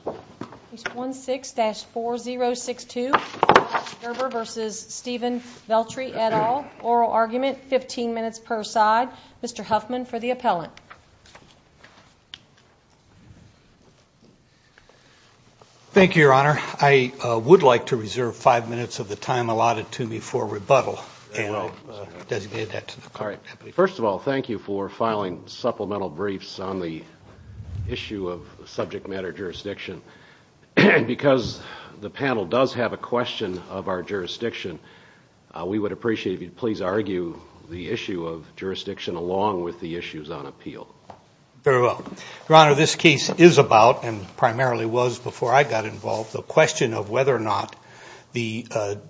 et al., oral argument, 15 minutes per side. Mr. Huffman for the appellant. Thank you, Your Honor. I would like to reserve five minutes of the time allotted to me for rebuttal. First of all, thank you for filing supplemental briefs on the issue of subject matter jurisdiction. And because the panel does have a question of our jurisdiction, we would appreciate if you'd please argue the issue of jurisdiction along with the issues on appeal. Very well. Your Honor, this case is about, and primarily was before I got involved, the question of whether or not the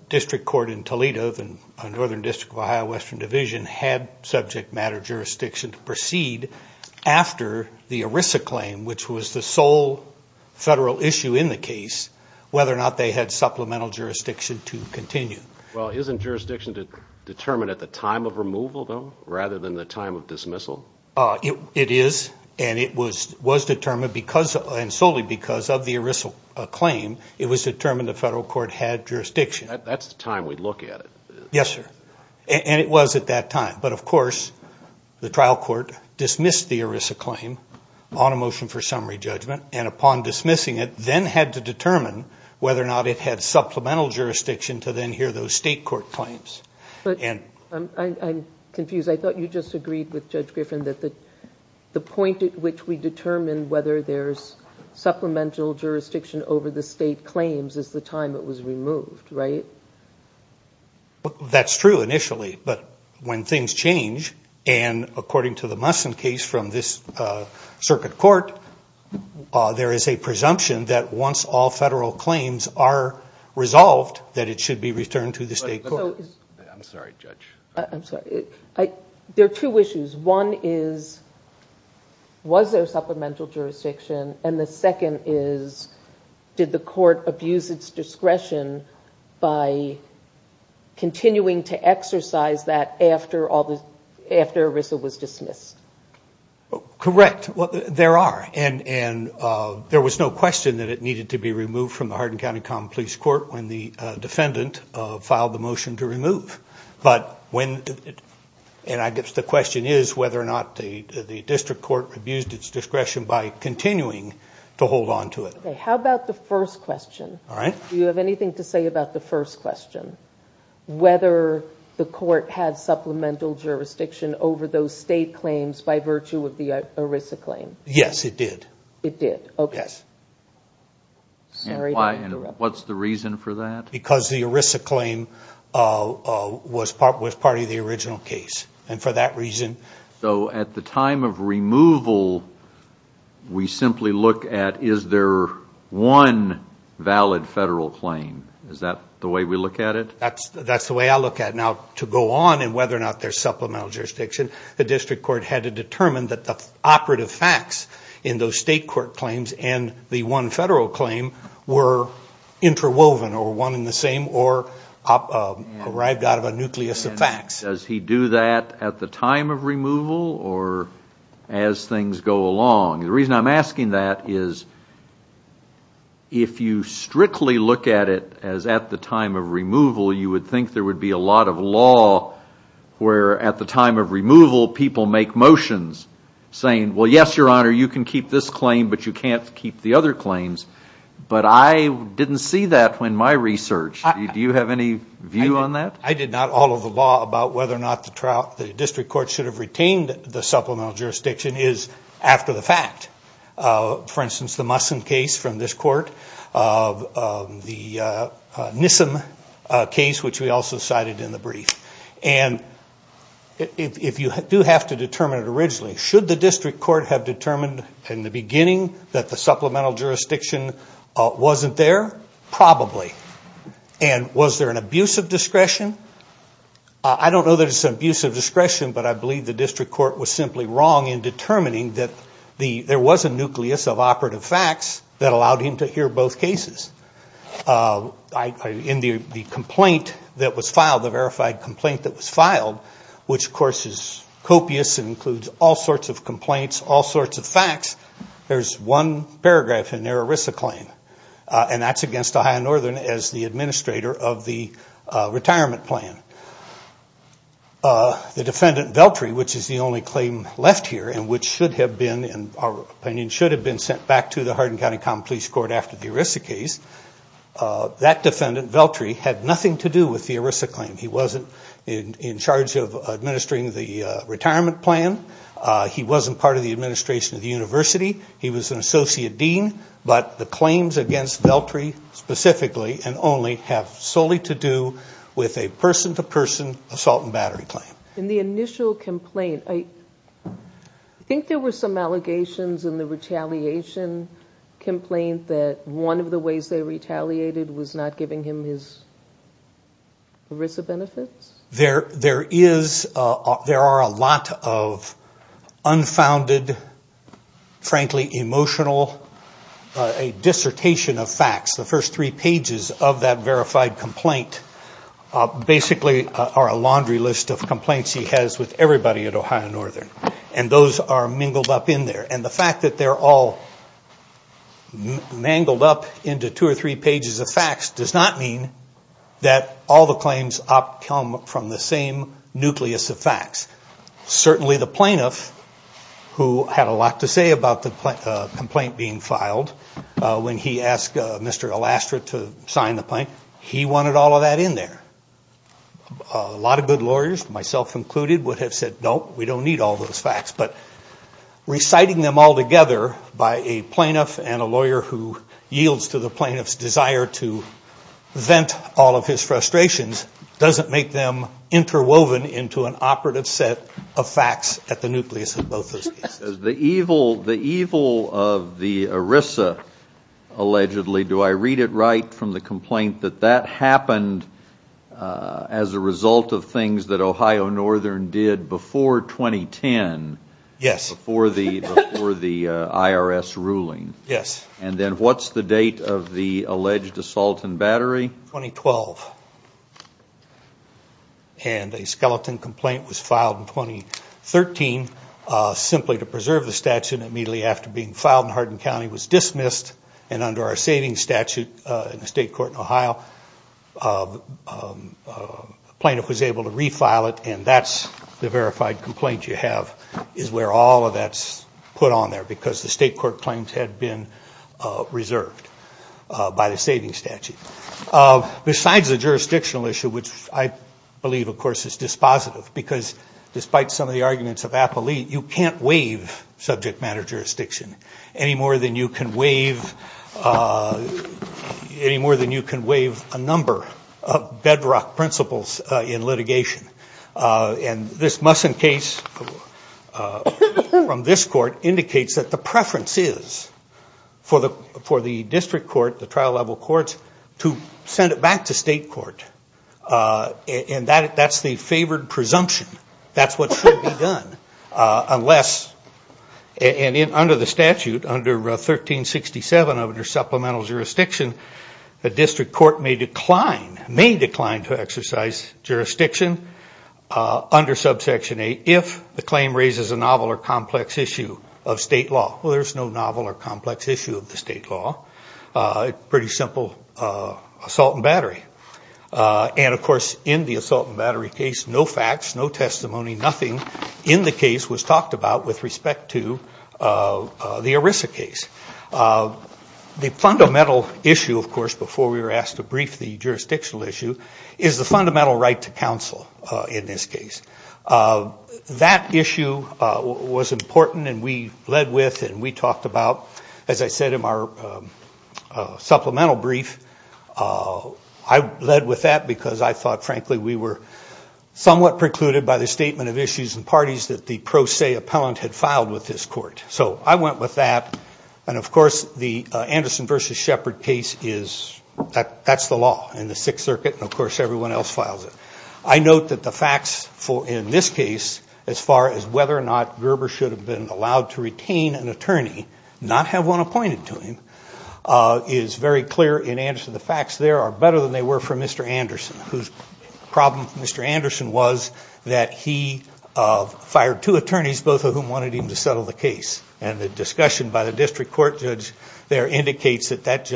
district court in Toledo, the Northern District of Ohio Western Division, had subject matter jurisdiction to proceed after the ERISA claim, which was the sole federal issue in the case, whether or not they had supplemental jurisdiction to continue. Well, isn't jurisdiction determined at the time of removal, though, rather than the time of dismissal? It is, and it was determined because, and solely because of the ERISA claim, it was determined the federal court had jurisdiction. That's the time we look at it. Yes, sir. And it was at that time. But of course, the trial court dismissed the ERISA claim on a motion for summary judgment, and upon dismissing it, then had to determine whether or not it had supplemental jurisdiction to then hear those state court claims. I'm confused. I thought you just agreed with Judge Griffin that the point at which we determine whether there's supplemental jurisdiction over the state claims is the time it was removed, right? That's true initially, but when things change, and according to the Musson case from this circuit court, there is a presumption that once all federal claims are resolved, that it should be returned to the state court. I'm sorry, Judge. I'm sorry. There are two issues. One is, was there supplemental jurisdiction? And the second is, did the court abuse its There are. And there was no question that it needed to be removed from the Hardin County Common Police Court when the defendant filed the motion to remove. But when, and I guess the question is whether or not the district court abused its discretion by continuing to hold on to it. Okay. How about the first question? All right. Do you have anything to say about the first question? Whether the court had supplemental jurisdiction over those state claims by virtue of the ERISA claim? Yes, it did. It did? Okay. Yes. Sorry to interrupt. What's the reason for that? Because the ERISA claim was part of the original case. And for that reason... So at the time of removal, we simply look at, is there one valid federal claim? Is that the way we look at it? That's the way I look at it. Now, to go on and whether or not there's supplemental jurisdiction, the district court had to determine that the operative facts in those state court claims and the one federal claim were interwoven or one and the same or arrived out of a nucleus of facts. Does he do that at the time of removal or as things go along? The reason I'm asking that is if you strictly look at it as at the time of removal, you would think there would be a lot of law where at the time of removal, people make motions saying, well, yes, your honor, you can keep this claim, but you can't keep the other claims. But I didn't see that in my research. Do you have any view on that? I did not. All of the law about whether or not the district court should have retained the supplemental jurisdiction is after the fact. For instance, the Musson case from this time, a case which we also cited in the brief. And if you do have to determine it originally, should the district court have determined in the beginning that the supplemental jurisdiction wasn't there? Probably. And was there an abuse of discretion? I don't know that it's an abuse of discretion, but I believe the district court was simply wrong in determining that there was a nucleus of operative facts that allowed him to hear both cases. In the complaint that was filed, the verified complaint that was filed, which of course is copious and includes all sorts of complaints, all sorts of facts, there's one paragraph in there, a RISA claim. And that's against Ohio Northern as the administrator of the retirement plan. The defendant, Veltri, which is the only claim left here and which should have been, in our opinion, should have been sent back to the Hardin County Common Police Court after the RISA case, that defendant, Veltri, had nothing to do with the RISA claim. He wasn't in charge of administering the retirement plan. He wasn't part of the administration of the university. He was an associate dean. But the claims against Veltri specifically and only have solely to do with a person-to-person assault and battery claim. In the initial complaint, I think there were some allegations in the retaliation complaint that one of the ways they retaliated was not giving him his RISA benefits? There are a lot of unfounded, frankly emotional, a dissertation of facts. The first three pages of that verified complaint basically are a laundry list of complaints he has with everybody at Ohio Northern. And those are mingled up in there. And the fact that they're all mangled up into two or three pages of facts does not mean that all the claims come from the same nucleus of facts. Certainly the plaintiff, who had a lot to say about the complaint being filed, when he asked Mr. Alastra to sign the point, he wanted all of that in there. A lot of good lawyers, myself included, would have said, no, we don't need all those facts. But reciting them all together by a plaintiff and a lawyer who yields to the plaintiff's desire to vent all of his frustrations doesn't make them interwoven into an operative set of facts at the nucleus of both those cases. The evil of the RISA, allegedly, do I read it right from the complaint that that happened as a result of things that Ohio Northern did before 2010? Yes. Before the IRS ruling? Yes. And then what's the date of the alleged assault and 2013, simply to preserve the statute and immediately after being filed in Hardin County was dismissed and under our savings statute in the state court in Ohio, the plaintiff was able to refile it and that's the verified complaint you have, is where all of that's put on there because the state court claims had been reserved by the savings statute. Besides the jurisdictional issue, which I believe, of course, is dispositive because despite some of the arguments of Applee, you can't waive subject matter jurisdiction any more than you can waive a number of bedrock principles in litigation. And this Musson case from this court indicates that the preference is for the district court, the trial level courts, to send it back to state court. And that's the favored presumption. That's what should be done unless, and under the statute, under 1367, under supplemental jurisdiction, the district court may decline, may decline to exercise jurisdiction under Subsection 8 if the claim raises a novel or complex issue of state law. Well, there's no novel or complex issue of the state law. It's pretty simple, assault and battery. And, of course, in the assault and battery case, no facts, no testimony, nothing in the case was talked about with respect to the ERISA case. The fundamental issue, of course, before we were asked to brief the jurisdictional issue, is the fundamental right to counsel in this case. That issue was important and we led with, and we talked about, as I said in our supplemental brief, I led with that because I thought, frankly, we were somewhat precluded by the statement of issues and parties that the pro se appellant had filed with this court. So I went with that. And, of course, the Anderson v. Shepard case is, that's the law in the Sixth Circuit, and, of course, everyone else files it. I note that the facts in this case, as far as whether or not Gerber should have been allowed to retain an attorney, not have one appointed to him, is very clear in Anderson. The facts there are better than they were for Mr. Anderson, whose problem for Mr. Anderson was that he fired two attorneys, both of whom wanted him to settle the case. And the discussion by the district court judge there indicates that that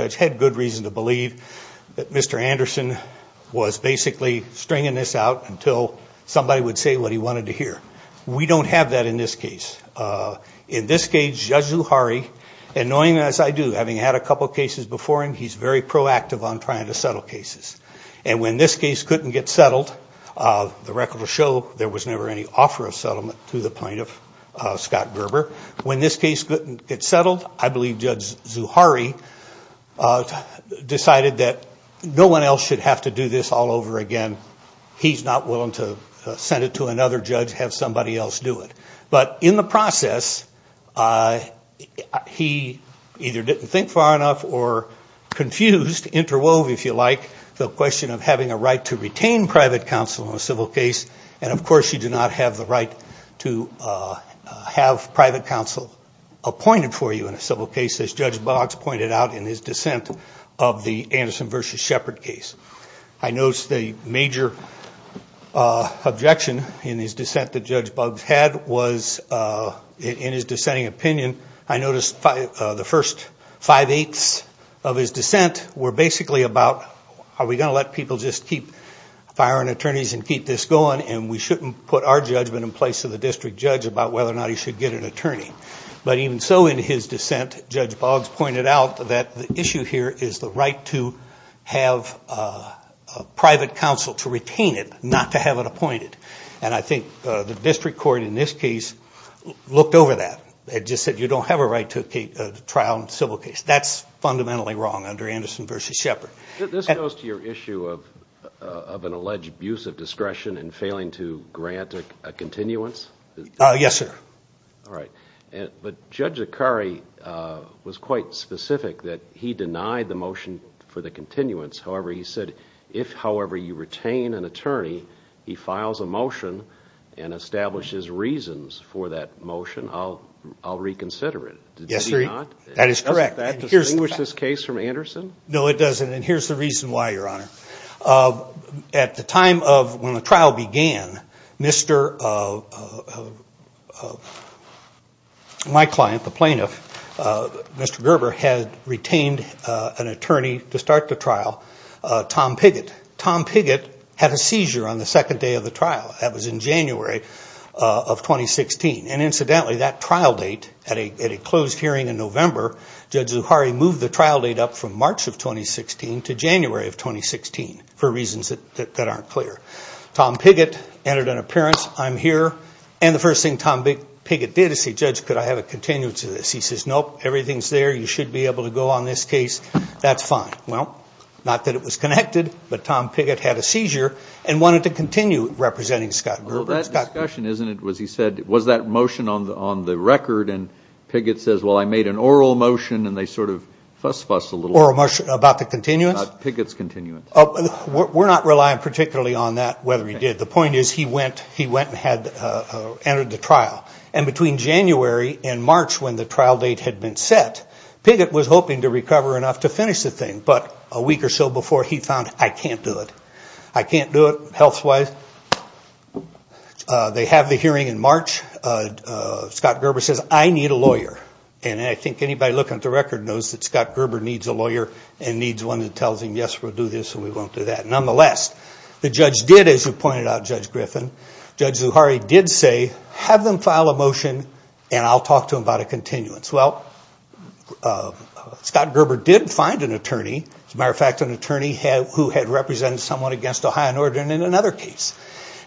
somebody would say what he wanted to hear. We don't have that in this case. In this case, Judge Zuhari, and knowing as I do, having had a couple cases before him, he's very proactive on trying to settle cases. And when this case couldn't get settled, the record will show there was never any offer of settlement to the plaintiff, Scott Gerber. When this case couldn't get settled, I believe Judge Zuhari decided that no one else should have to do this all over again. He's not willing to send it to another judge, have somebody else do it. But in the process, he either didn't think far enough or confused, interwoven, if you like, the question of having a right to retain private counsel in a civil case. And, of course, you do not have the right to have private counsel appointed for you in a civil case, as Judge Boggs pointed out in his dissent of the case. I noticed a major objection in his dissent that Judge Boggs had was, in his dissenting opinion, I noticed the first five-eighths of his dissent were basically about are we going to let people just keep firing attorneys and keep this going, and we shouldn't put our judgment in place of the district judge about whether or not he should get an attorney. But even so, in his dissent, Judge Boggs pointed out that the issue here is the right to have private counsel to retain it, not to have it appointed. And I think the district court in this case looked over that and just said you don't have a right to trial in a civil case. That's fundamentally wrong under Anderson v. Shepard. This goes to your issue of an alleged abuse of discretion and failing to grant a continuance? Yes, sir. All right. But Judge Akari was quite specific that he denied the motion for the continuance. However, he said if, however, you retain an attorney, he files a motion and establishes reasons for that motion, I'll reconsider it. Yes, sir. Did he not? That is correct. Does that distinguish this case from Anderson? No, it doesn't. And here's the reason why, Your Honor. At the time of when the trial began, my client, the plaintiff, Mr. Gerber, had retained an attorney to start the trial, Tom Piggott. Tom Piggott had a seizure on the second day of the trial. That was in January of 2016. And incidentally, that trial date, at a closed hearing in November, Judge Akari moved the trial date up from March of 2016 to January of 2016 for reasons that aren't clear. Tom Piggott entered an appearance. I'm here. And the first thing Tom Piggott did is say, Judge, could I have a continuance of this? He says, nope, everything's there. You should be able to go on this case. That's fine. Well, not that it was connected, but Tom Piggott had a seizure and wanted to continue representing Scott Gerber. Well, that discussion, isn't it, was he said, was that motion on the record, and Piggott says, well, I made an oral motion, and they sort of fuss-fussed a little. Oral motion about the continuance? About Piggott's continuance. We're not relying particularly on that, whether he did. The point is, he went and had entered the trial. And between January and March, when the trial date had been set, Piggott was hoping to recover enough to finish the thing. But a week or so before, he found, I can't do it. I can't do it health-wise. They have the hearing in March. Scott Gerber says, I need a lawyer. And I think anybody looking at the record knows that Scott Gerber needs a lawyer and needs one that tells him, yes, we'll do this and we won't do that. Nonetheless, the judge did, as you pointed out, Judge Griffin, Judge Zuhari did say, have them file a motion and I'll talk to him about a continuance. Well, Scott Gerber did find an attorney, as a matter of fact, an attorney who had represented someone against Ohio Northern in another case.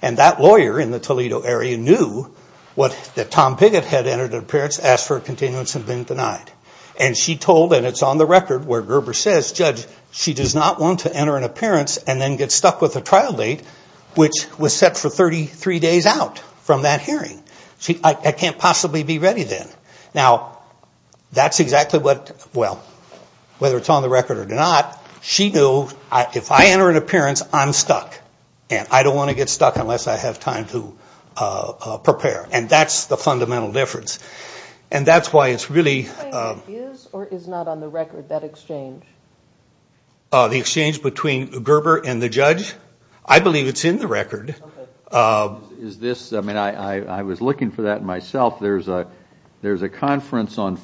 And that lawyer in the Toledo area knew that Tom Piggott had entered an appearance, asked for a continuance, and been denied. And she told, and it's on the record, where Gerber says, Judge, she does not want to enter an Now, that's exactly what, well, whether it's on the record or not, she knew, if I enter an appearance, I'm stuck. And I don't want to get stuck unless I have time to prepare. And that's the fundamental difference. And that's why it's really... The exchange between Gerber and the judge? I believe it's in the record. Is this, I mean, I was looking for that myself. There's a conference on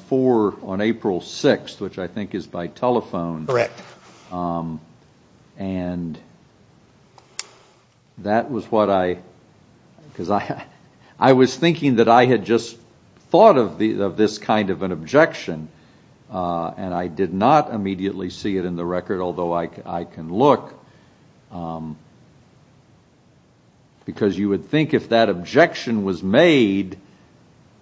April 6th, which I think is by telephone. Correct. And that was what I, because I was thinking that I had just thought of this kind of an objection, and I did not immediately see it in the record, although I can look, because you would think if that objection was made,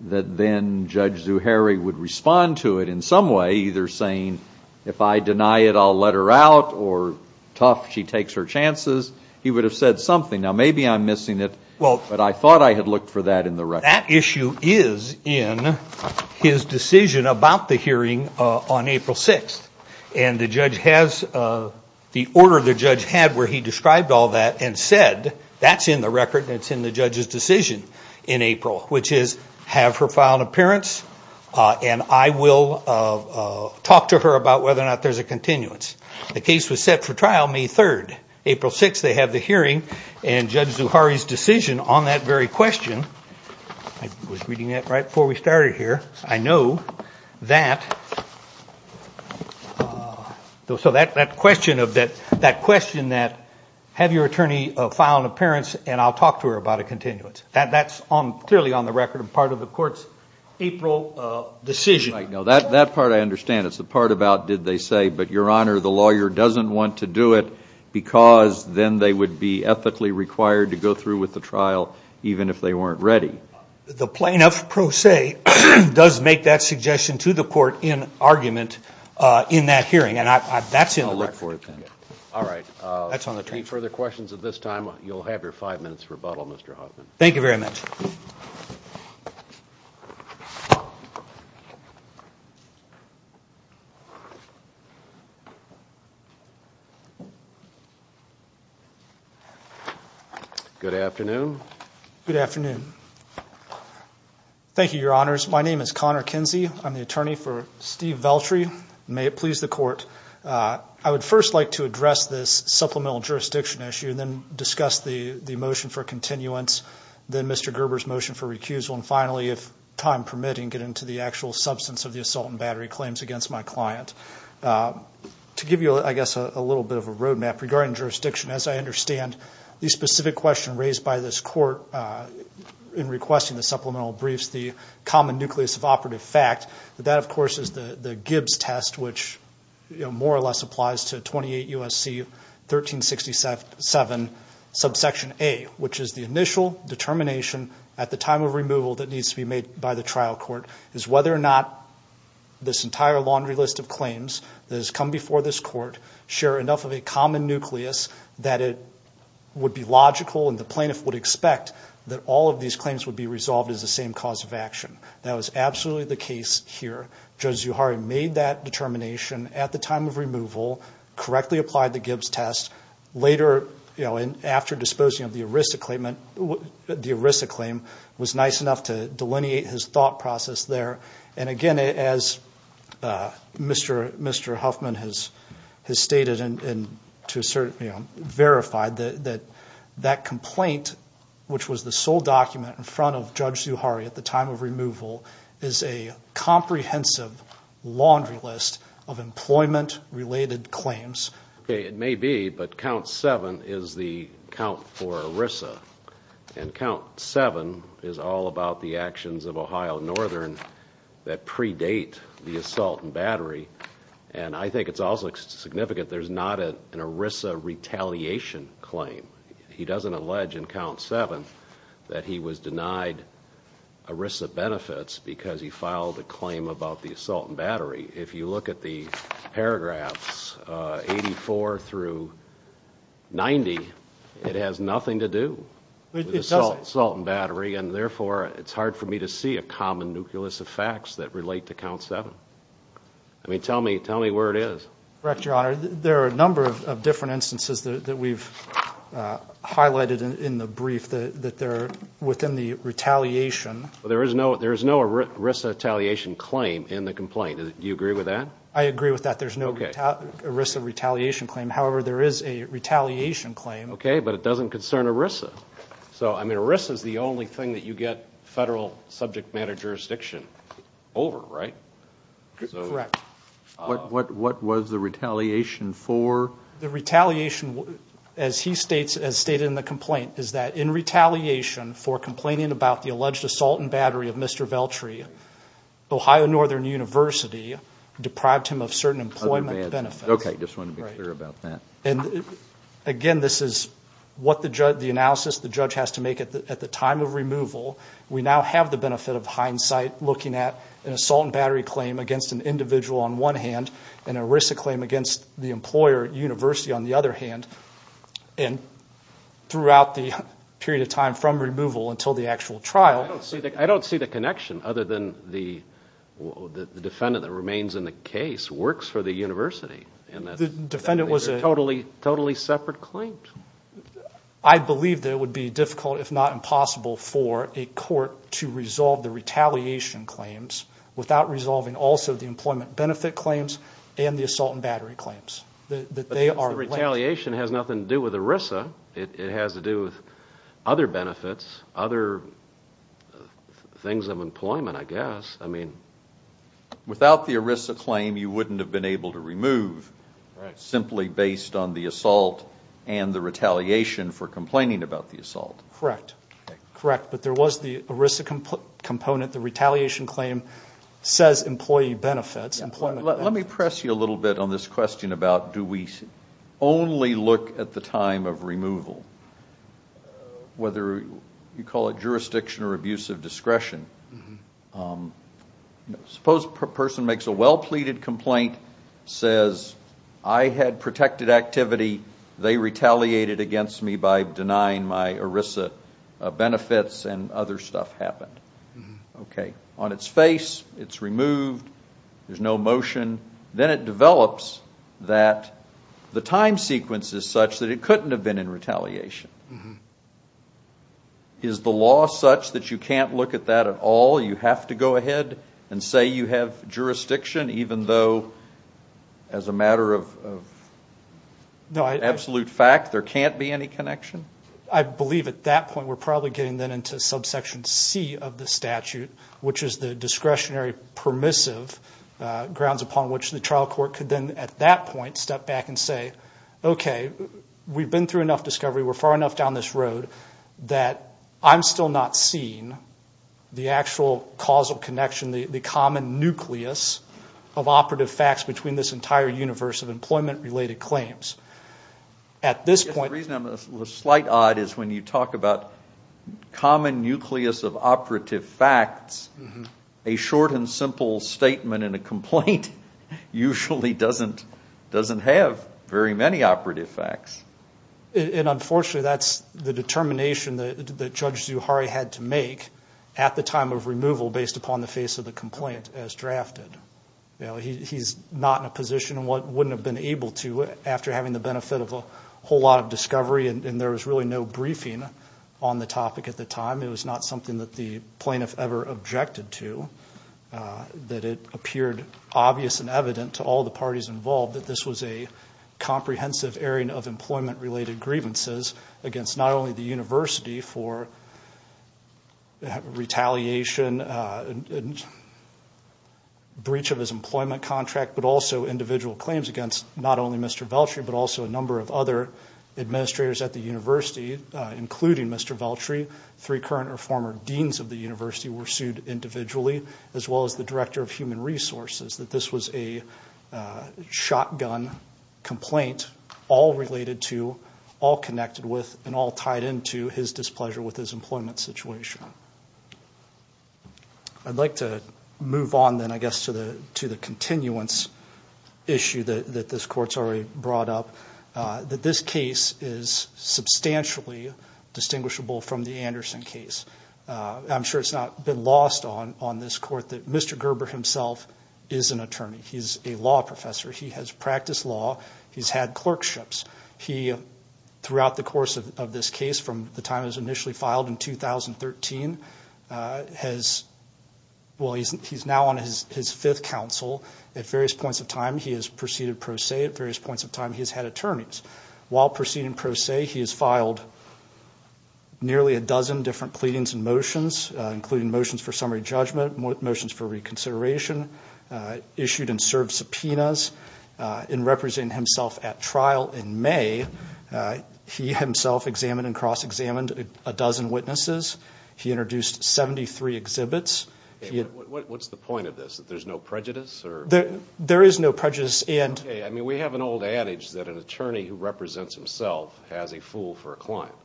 that then Judge Zuhairi would respond to it in some way, either saying, if I deny it, I'll let her out, or tough, she takes her chances. He would have said something. Now, maybe I'm missing it, but I thought I had looked for that in the record. But that issue is in his decision about the hearing on April 6th. And the judge has, the order the judge had where he described all that and said, that's in the record, and it's in the judge's decision in April, which is, have her file an appearance, and I will talk to her about whether or not there's a continuance. The case was set for trial May 3rd. April 6th, they have the hearing, and Judge Zuhairi's decision on that very question, I was reading that right before we started here, I know that, so that question that, have your attorney file an appearance, and I'll talk to her about a continuance. That's clearly on the record and part of the court's April decision. That part I understand. It's the part about, did they say, but your honor, the lawyer doesn't want to do it, because then they would be unethically required to go through with the trial, even if they weren't ready. The plaintiff, pro se, does make that suggestion to the court in argument in that hearing, and that's in the record. I'll look for it then. Any further questions at this time, you'll have your five minutes rebuttal, Mr. Hoffman. Thank you very much. Good afternoon. Good afternoon. Thank you, your honors. My name is Connor Kinsey. I'm the attorney for Steve Veltri. May it please the court. I would first like to address this supplemental jurisdiction issue, then discuss the motion for continuance, then Mr. Gerber's motion for recusal, and finally, if time permitting, get into the actual substance of the assault and battery claims against my client. To give you, I guess, a little bit of a road map regarding jurisdiction, as I understand, the specific question raised by this court in requesting the supplemental briefs, the common nucleus of operative fact, that that, of course, is the Gibbs test, which more or less applies to 28 U.S.C. 1367, subsection A, which is the initial determination at the time of removal that needs to be made by the trial court, is whether or not this entire laundry list of claims that has come before this court share enough of a common nucleus that it would be logical, and the plaintiff would expect, that all of these claims would be resolved as the same cause of action. That was absolutely the case here. Judge Zuhari made that determination at the time of removal, correctly applied the Gibbs test, later, after disposing of the ERISA claim, was nice enough to delineate his thought process there, and again, as Mr. Huffman has stated, and to a certain extent, verified, that that complaint, which was the sole document in front of Judge Zuhari at the time of removal, is a comprehensive laundry list of employment-related claims. Okay, it may be, but count 7 is the count for ERISA, and count 7 is all about the actions of Ohio Northern that predate the assault and battery, and I think it's also significant there's not an ERISA retaliation claim. He doesn't allege in count 7 that he was denied ERISA benefits because he filed a claim about the assault and battery. If you look at the paragraphs 84 through 90, it has nothing to do with the assault and battery, and therefore it's hard for me to see a common nucleus of facts that relate to count 7. I mean, tell me where it is. Correct, Your Honor. There are a number of different instances that we've highlighted in the brief that they're within the retaliation. There is no ERISA retaliation claim in the complaint. Do you agree with that? I agree with that. There's no ERISA retaliation claim. However, there is a retaliation claim. Okay, but it doesn't concern ERISA. So, I mean, ERISA is the only thing that you get federal subject matter jurisdiction over, right? Correct. What was the retaliation for? The retaliation, as he states, as stated in the complaint, is that in retaliation for complaining about the alleged assault and battery of Mr. Veltri, Ohio Northern University deprived him of certain employment benefits. Okay, just wanted to be clear about that. Again, this is what the analysis the judge has to make at the time of removal. We now have the benefit of hindsight looking at an assault and battery claim against an individual on one hand and an ERISA claim against the employer at university on the other hand, and throughout the period of time from removal until the actual trial. I don't see the connection other than the defendant that remains in the case works for the university. The defendant was a totally separate claim. I believe that it would be difficult, if not impossible, for a court to resolve the retaliation claims without resolving also the employment benefit claims and the assault and battery claims. Retaliation has nothing to do with ERISA. It has to do with other benefits, other things of employment, I guess. I mean, without the ERISA claim, you wouldn't have been able to remove simply based on the assault and the retaliation for complaining about the assault. Correct. Correct, but there was the ERISA component. The retaliation claim says employee benefits, employment benefits. Let me press you a little bit on this question about do we only look at the time of removal, whether you call it jurisdiction or abuse of discretion. Suppose a person makes a well-pleaded complaint, says I had protected activity, they retaliated against me by denying my ERISA benefits and other stuff happened. Okay. On its face, it's removed, there's no motion. Then it develops that the time sequence is such that it couldn't have been in retaliation. Is the law such that you can't look at that at all? You have to go ahead and say you have jurisdiction even though as a matter of absolute fact, there can't be any connection? I believe at that point we're probably getting then into subsection C of the statute, which is the discretionary permissive grounds upon which the trial court could then at that point step back and say, okay, we've been through enough discovery, we're far enough down this road, that I'm still not seeing the actual causal connection, the common nucleus of operative facts between this entire universe of employment-related claims. At this point... The reason I'm a slight odd is when you talk about common nucleus of operative facts, a short and simple statement in a complaint usually doesn't have very many operative facts. Unfortunately, that's the determination that Judge Zuhari had to make at the time of removal based upon the face of the complaint as drafted. He's not in a position and wouldn't have been able to after having the benefit of a whole lot of discovery and there was really no briefing on the topic at the time. It was not something that the plaintiff ever objected to, that it appeared obvious and evident to all the parties involved that this was a comprehensive airing of employment-related grievances against not only the university for retaliation, breach of his employment contract, but also individual claims against not only Mr. Veltri but also a number of other administrators at the university, including Mr. Veltri, three current or former deans of the university were sued individually, as well as the director of human resources, that this was a shotgun complaint all related to, all connected with, and all tied into his displeasure with his employment situation. I'd like to move on then, I guess, to the continuance issue that this court's already brought up, that this case is substantially distinguishable from the Anderson case. I'm sure it's not been lost on this court that Mr. Gerber himself is an attorney. He's a law professor. He has practiced law. He's had clerkships. Throughout the course of this case, from the time it was initially filed in 2013, he's now on his fifth counsel at various points of time. He has proceeded pro se at various points of time. He has had attorneys. While proceeding pro se, he has filed nearly a dozen different pleadings and motions, including motions for summary judgment, motions for reconsideration, issued and served subpoenas. In representing himself at trial in May, he himself examined and cross-examined a dozen witnesses. He introduced 73 exhibits. What's the point of this, that there's no prejudice? There is no prejudice. We have an old adage that an attorney who represents himself has a fool for a client.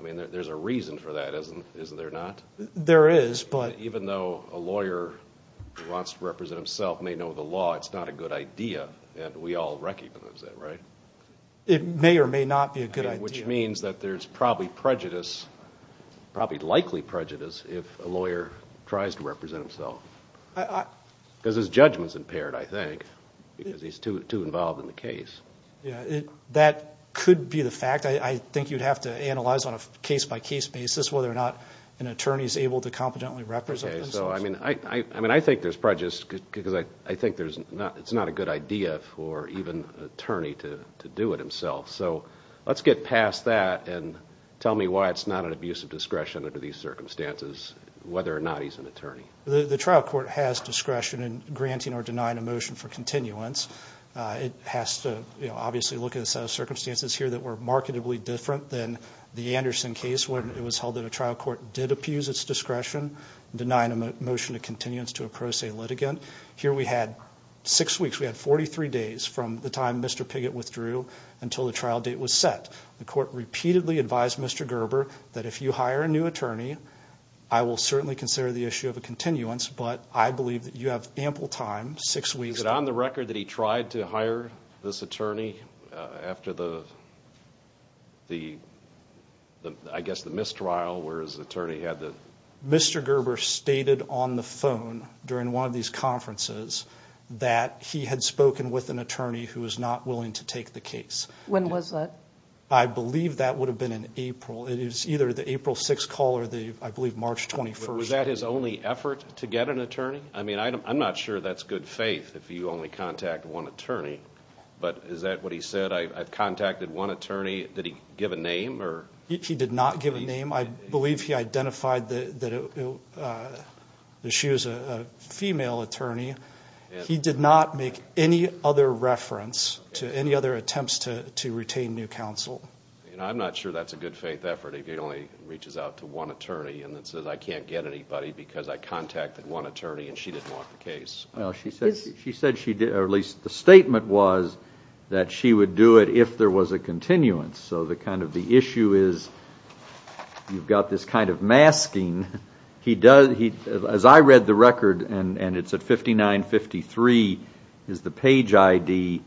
There's a reason for that, isn't there not? There is. Even though a lawyer who wants to represent himself may know the law, it's not a good idea. We all recognize that, right? It may or may not be a good idea. Which means that there's probably prejudice, probably likely prejudice, if a lawyer tries to represent himself. Because his judgment's impaired, I think, because he's too involved in the case. That could be the fact. I think you'd have to analyze on a case-by-case basis whether or not an attorney is able to competently represent himself. I think there's prejudice because I think it's not a good idea for even an attorney to do it himself. Let's get past that and tell me why it's not an abuse of discretion under these circumstances, whether or not he's an attorney. The trial court has discretion in granting or denying a motion for continuance. It has to obviously look at a set of circumstances here that were markedly different than the Anderson case when it was held that a trial court did abuse its discretion in denying a motion of continuance to a pro se litigant. Here we had six weeks. We had 43 days from the time Mr. Piggott withdrew until the trial date was set. The court repeatedly advised Mr. Gerber that if you hire a new attorney, I will certainly consider the issue of a continuance, but I believe that you have ample time, six weeks. Is it on the record that he tried to hire this attorney after the, I guess, the mistrial where his attorney had the? Mr. Gerber stated on the phone during one of these conferences that he had spoken with an attorney who was not willing to take the case. When was that? I believe that would have been in April. It is either the April 6th call or the, I believe, March 21st. Was that his only effort to get an attorney? I mean, I'm not sure that's good faith if you only contact one attorney, but is that what he said? I've contacted one attorney. Did he give a name or? He did not give a name. I believe he identified that she was a female attorney. He did not make any other reference to any other attempts to retain new counsel. I'm not sure that's a good faith effort if he only reaches out to one attorney and then says, I can't get anybody because I contacted one attorney and she didn't want the case. She said she did, or at least the statement was that she would do it if there was a continuance. So the kind of the issue is you've got this kind of masking. As I read the record, and it's at 5953 is the page ID,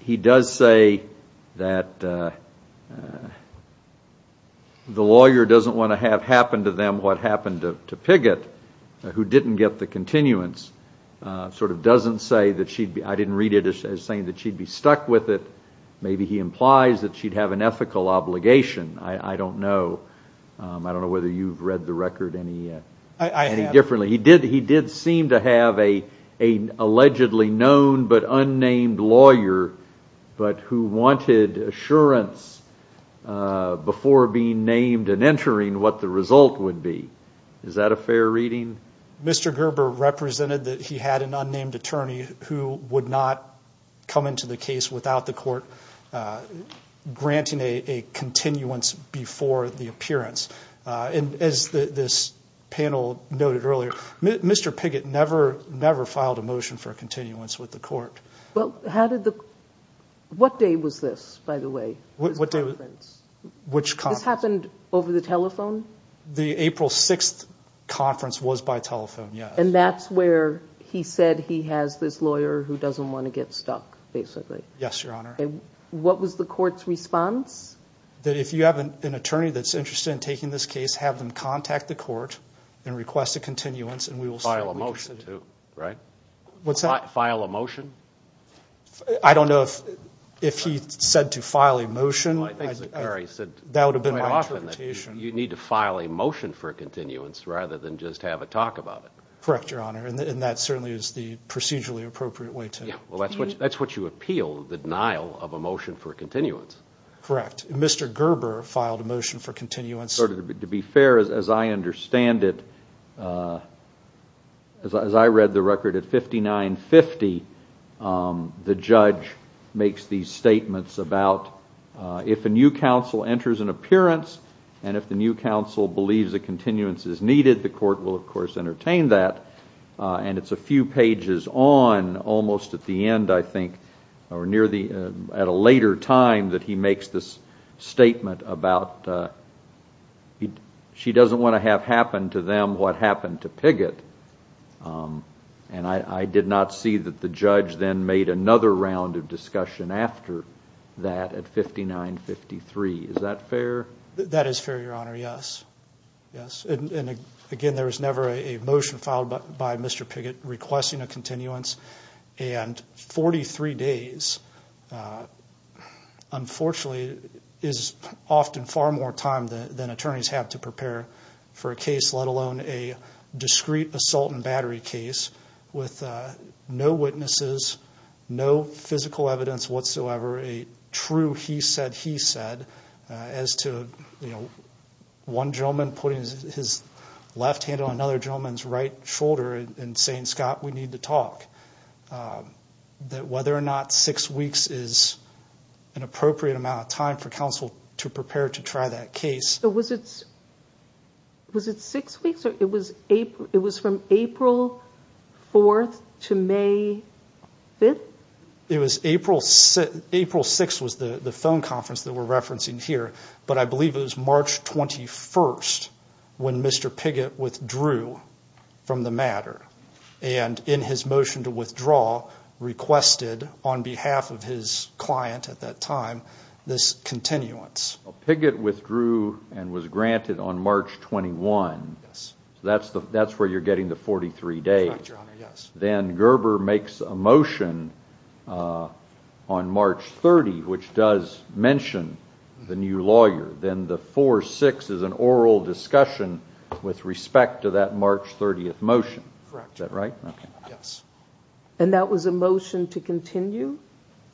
he does say that the lawyer doesn't want to have happen to them what happened to Piggott, who didn't get the continuance, sort of doesn't say that she'd be, I didn't read it as saying that she'd be stuck with it. Maybe he implies that she'd have an ethical obligation. I don't know. I don't know whether you've read the record any differently. I have. He did seem to have an allegedly known but unnamed lawyer, but who wanted assurance before being named and entering what the result would be. Is that a fair reading? Mr. Gerber represented that he had an unnamed attorney who would not come into the case without the court granting a continuance before the appearance. As this panel noted earlier, Mr. Piggott never filed a motion for continuance with the court. What day was this, by the way, this conference? Which conference? This happened over the telephone? The April 6th conference was by telephone, yes. And that's where he said he has this lawyer who doesn't want to get stuck, basically. Yes, Your Honor. What was the court's response? That if you have an attorney that's interested in taking this case, have them contact the court and request a continuance and we will see what we can do. File a motion too, right? What's that? File a motion? I don't know if he said to file a motion. That would have been my interpretation. You need to file a motion for continuance rather than just have a talk about it. Correct, Your Honor. And that certainly is the procedurally appropriate way to do it. That's what you appeal, the denial of a motion for continuance. Correct. Mr. Gerber filed a motion for continuance. To be fair, as I understand it, as I read the record at 5950, the judge makes these statements about if a new counsel enters an appearance and if the new counsel believes a continuance is needed, the court will, of course, entertain that. And it's a few pages on, almost at the end, I think, or at a later time that he makes this statement about she doesn't want to have happen to them what happened to Piggott. And I did not see that the judge then made another round of discussion after that at 5953. Is that fair? That is fair, Your Honor, yes. Again, there was never a motion filed by Mr. Piggott requesting a continuance. And 43 days, unfortunately, is often far more time than attorneys have to prepare for a case, let alone a discrete assault and battery case with no witnesses, no physical evidence whatsoever, a true he said, he said, as to one gentleman putting his left hand on another gentleman's right shoulder and saying, Scott, we need to talk, that whether or not six weeks is an appropriate amount of time for counsel to prepare to try that case. So was it six weeks? It was from April 4th to May 5th? It was April 6th was the phone conference that we're referencing here. But I believe it was March 21st when Mr. Piggott withdrew from the matter and in his motion to withdraw requested on behalf of his client at that time this continuance. Piggott withdrew and was granted on March 21. That's where you're getting the 43 days. Then Gerber makes a motion on March 30, which does mention the new lawyer. Then the 4-6 is an oral discussion with respect to that March 30th motion. Is that right? Yes. And that was a motion to continue?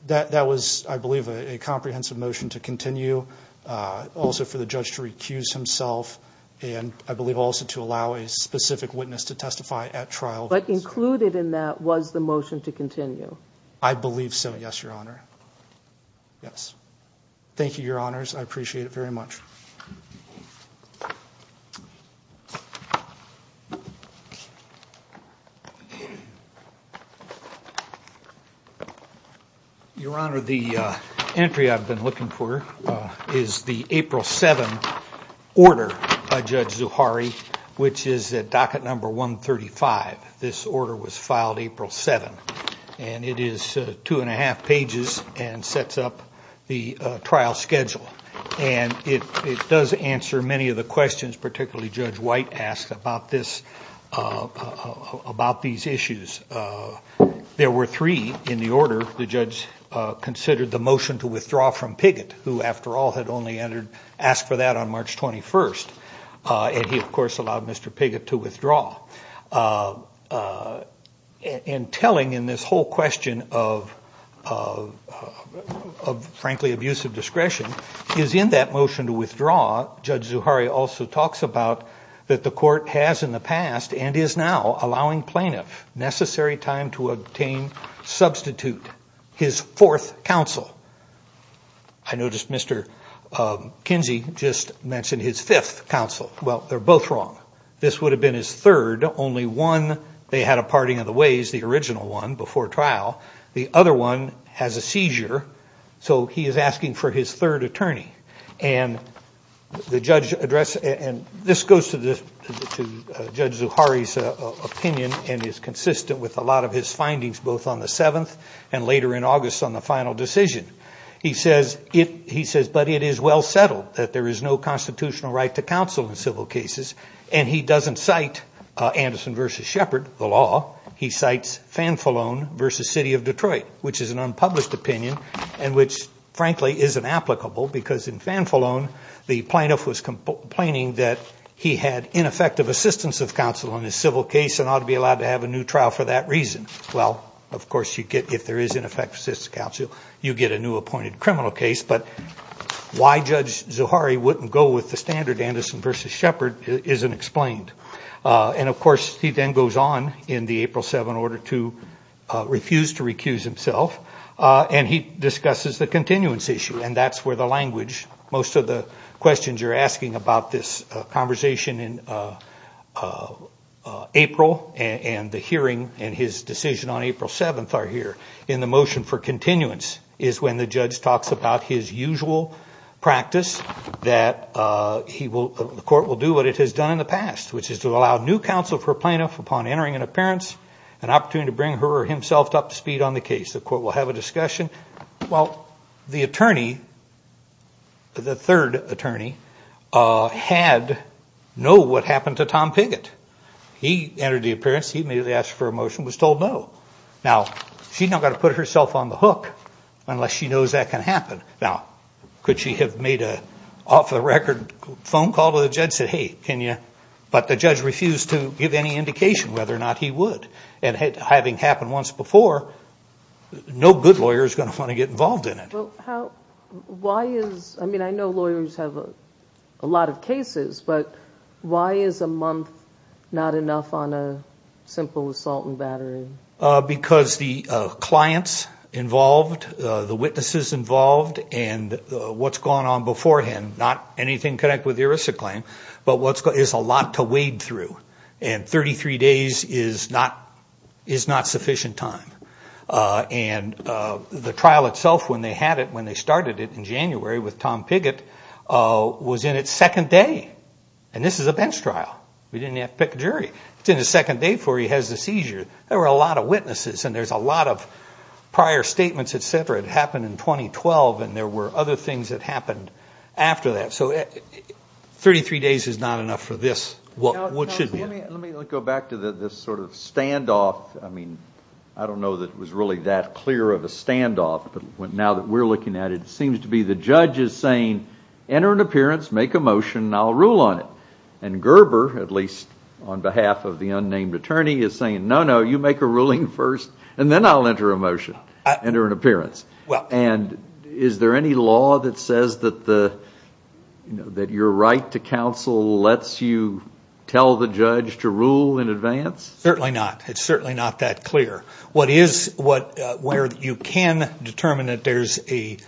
That was, I believe, a comprehensive motion to continue, also for the judge to recuse himself, and I believe also to allow a specific witness to testify at trial. But included in that was the motion to continue? I believe so, yes, Your Honor. Yes. Thank you, Your Honors. I appreciate it very much. Your Honor, the entry I've been looking for is the April 7 order by Judge Zuhari, which is at docket number 135. This order was filed April 7, and it is two and a half pages and sets up the trial schedule. And it does answer many of the questions particularly Judge White asked about these issues. There were three in the order the judge considered the motion to withdraw from Piggott, who, after all, had only asked for that on March 21st. And he, of course, allowed Mr. Piggott to withdraw. And telling in this whole question of, frankly, abusive discretion, is in that motion to withdraw, Judge Zuhari also talks about that the court has in the past and is now allowing plaintiff necessary time to obtain substitute, his fourth counsel. I noticed Mr. Kinsey just mentioned his fifth counsel. Well, they're both wrong. This would have been his third. Only one, they had a parting of the ways, the original one, before trial. The other one has a seizure, so he is asking for his third attorney. And this goes to Judge Zuhari's opinion and is consistent with a lot of his findings, both on the seventh and later in August on the final decision. He says, but it is well settled that there is no constitutional right to counsel in civil cases. And he doesn't cite Anderson v. Shepard, the law. He cites Fanfalone v. City of Detroit, which is an unpublished opinion, and which, frankly, isn't applicable because in Fanfalone, the plaintiff was complaining that he had ineffective assistance of counsel in his civil case and ought to be allowed to have a new trial for that reason. Well, of course, if there is ineffective assistance of counsel, you get a new appointed criminal case. But why Judge Zuhari wouldn't go with the standard Anderson v. Shepard isn't explained. And, of course, he then goes on in the April 7 order to refuse to recuse himself. And he discusses the continuance issue, and that's where the language, most of the questions you're asking about this conversation in April and the hearing and his decision on April 7 are here. In the motion for continuance is when the judge talks about his usual practice, that the court will do what it has done in the past, which is to allow new counsel for a plaintiff upon entering an appearance, an opportunity to bring her or himself up to speed on the case. The court will have a discussion. Well, the attorney, the third attorney, had no what happened to Tom Piggott. He entered the appearance. He made the ask for a motion and was told no. Now, she's not going to put herself on the hook unless she knows that can happen. Now, could she have made an off-the-record phone call to the judge and said, hey, can you? But the judge refused to give any indication whether or not he would. And having happened once before, no good lawyer is going to want to get involved in it. Well, why is – I mean, I know lawyers have a lot of cases, but why is a month not enough on a simple assault and battery? Because the clients involved, the witnesses involved, and what's gone on beforehand, not anything connected with the ERISA claim, but there's a lot to wade through. And 33 days is not sufficient time. And the trial itself, when they had it, when they started it in January with Tom Piggott, was in its second day. And this is a bench trial. We didn't have to pick a jury. It's in the second day before he has the seizure. There were a lot of witnesses and there's a lot of prior statements, et cetera. It happened in 2012, and there were other things that happened after that. So 33 days is not enough for this. Let me go back to this sort of standoff. I mean, I don't know that it was really that clear of a standoff, but now that we're looking at it, it seems to be the judge is saying, enter an appearance, make a motion, and I'll rule on it. And Gerber, at least on behalf of the unnamed attorney, is saying, no, no, you make a ruling first, and then I'll enter a motion, enter an appearance. And is there any law that says that your right to counsel lets you tell the judge to rule in advance? Certainly not. It's certainly not that clear. Where you can determine that there's a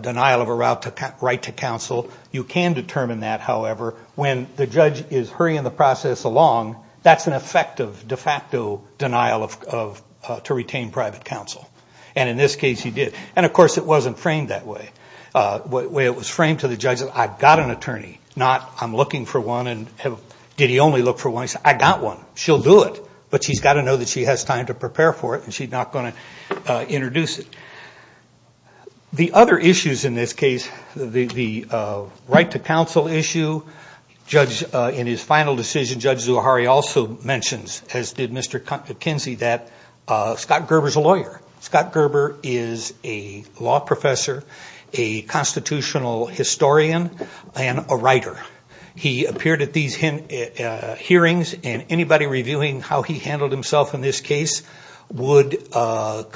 denial of a right to counsel, you can determine that, however, when the judge is hurrying the process along, that's an effective de facto denial to retain private counsel. And in this case, he did. And, of course, it wasn't framed that way. The way it was framed to the judge is, I've got an attorney, not I'm looking for one. Did he only look for one? He said, I got one. She'll do it, but she's got to know that she has time to prepare for it, and she's not going to introduce it. The other issues in this case, the right to counsel issue, in his final decision, Judge Zuhari also mentions, as did Mr. Kinsey, that Scott Gerber is a lawyer. Scott Gerber is a law professor, a constitutional historian, and a writer. He appeared at these hearings, and anybody reviewing how he handled himself in this case would concur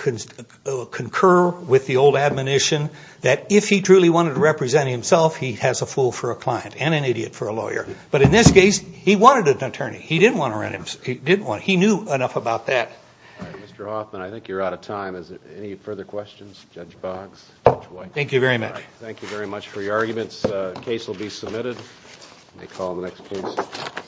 with the old admonition that if he truly wanted to represent himself, he has a fool for a client and an idiot for a lawyer. But in this case, he wanted an attorney. He didn't want to rent himself. He didn't want to. He knew enough about that. Mr. Hoffman, I think you're out of time. Any further questions? Judge Boggs, Judge White. Thank you very much. Thank you very much for your arguments. The case will be submitted. We'll call the next case.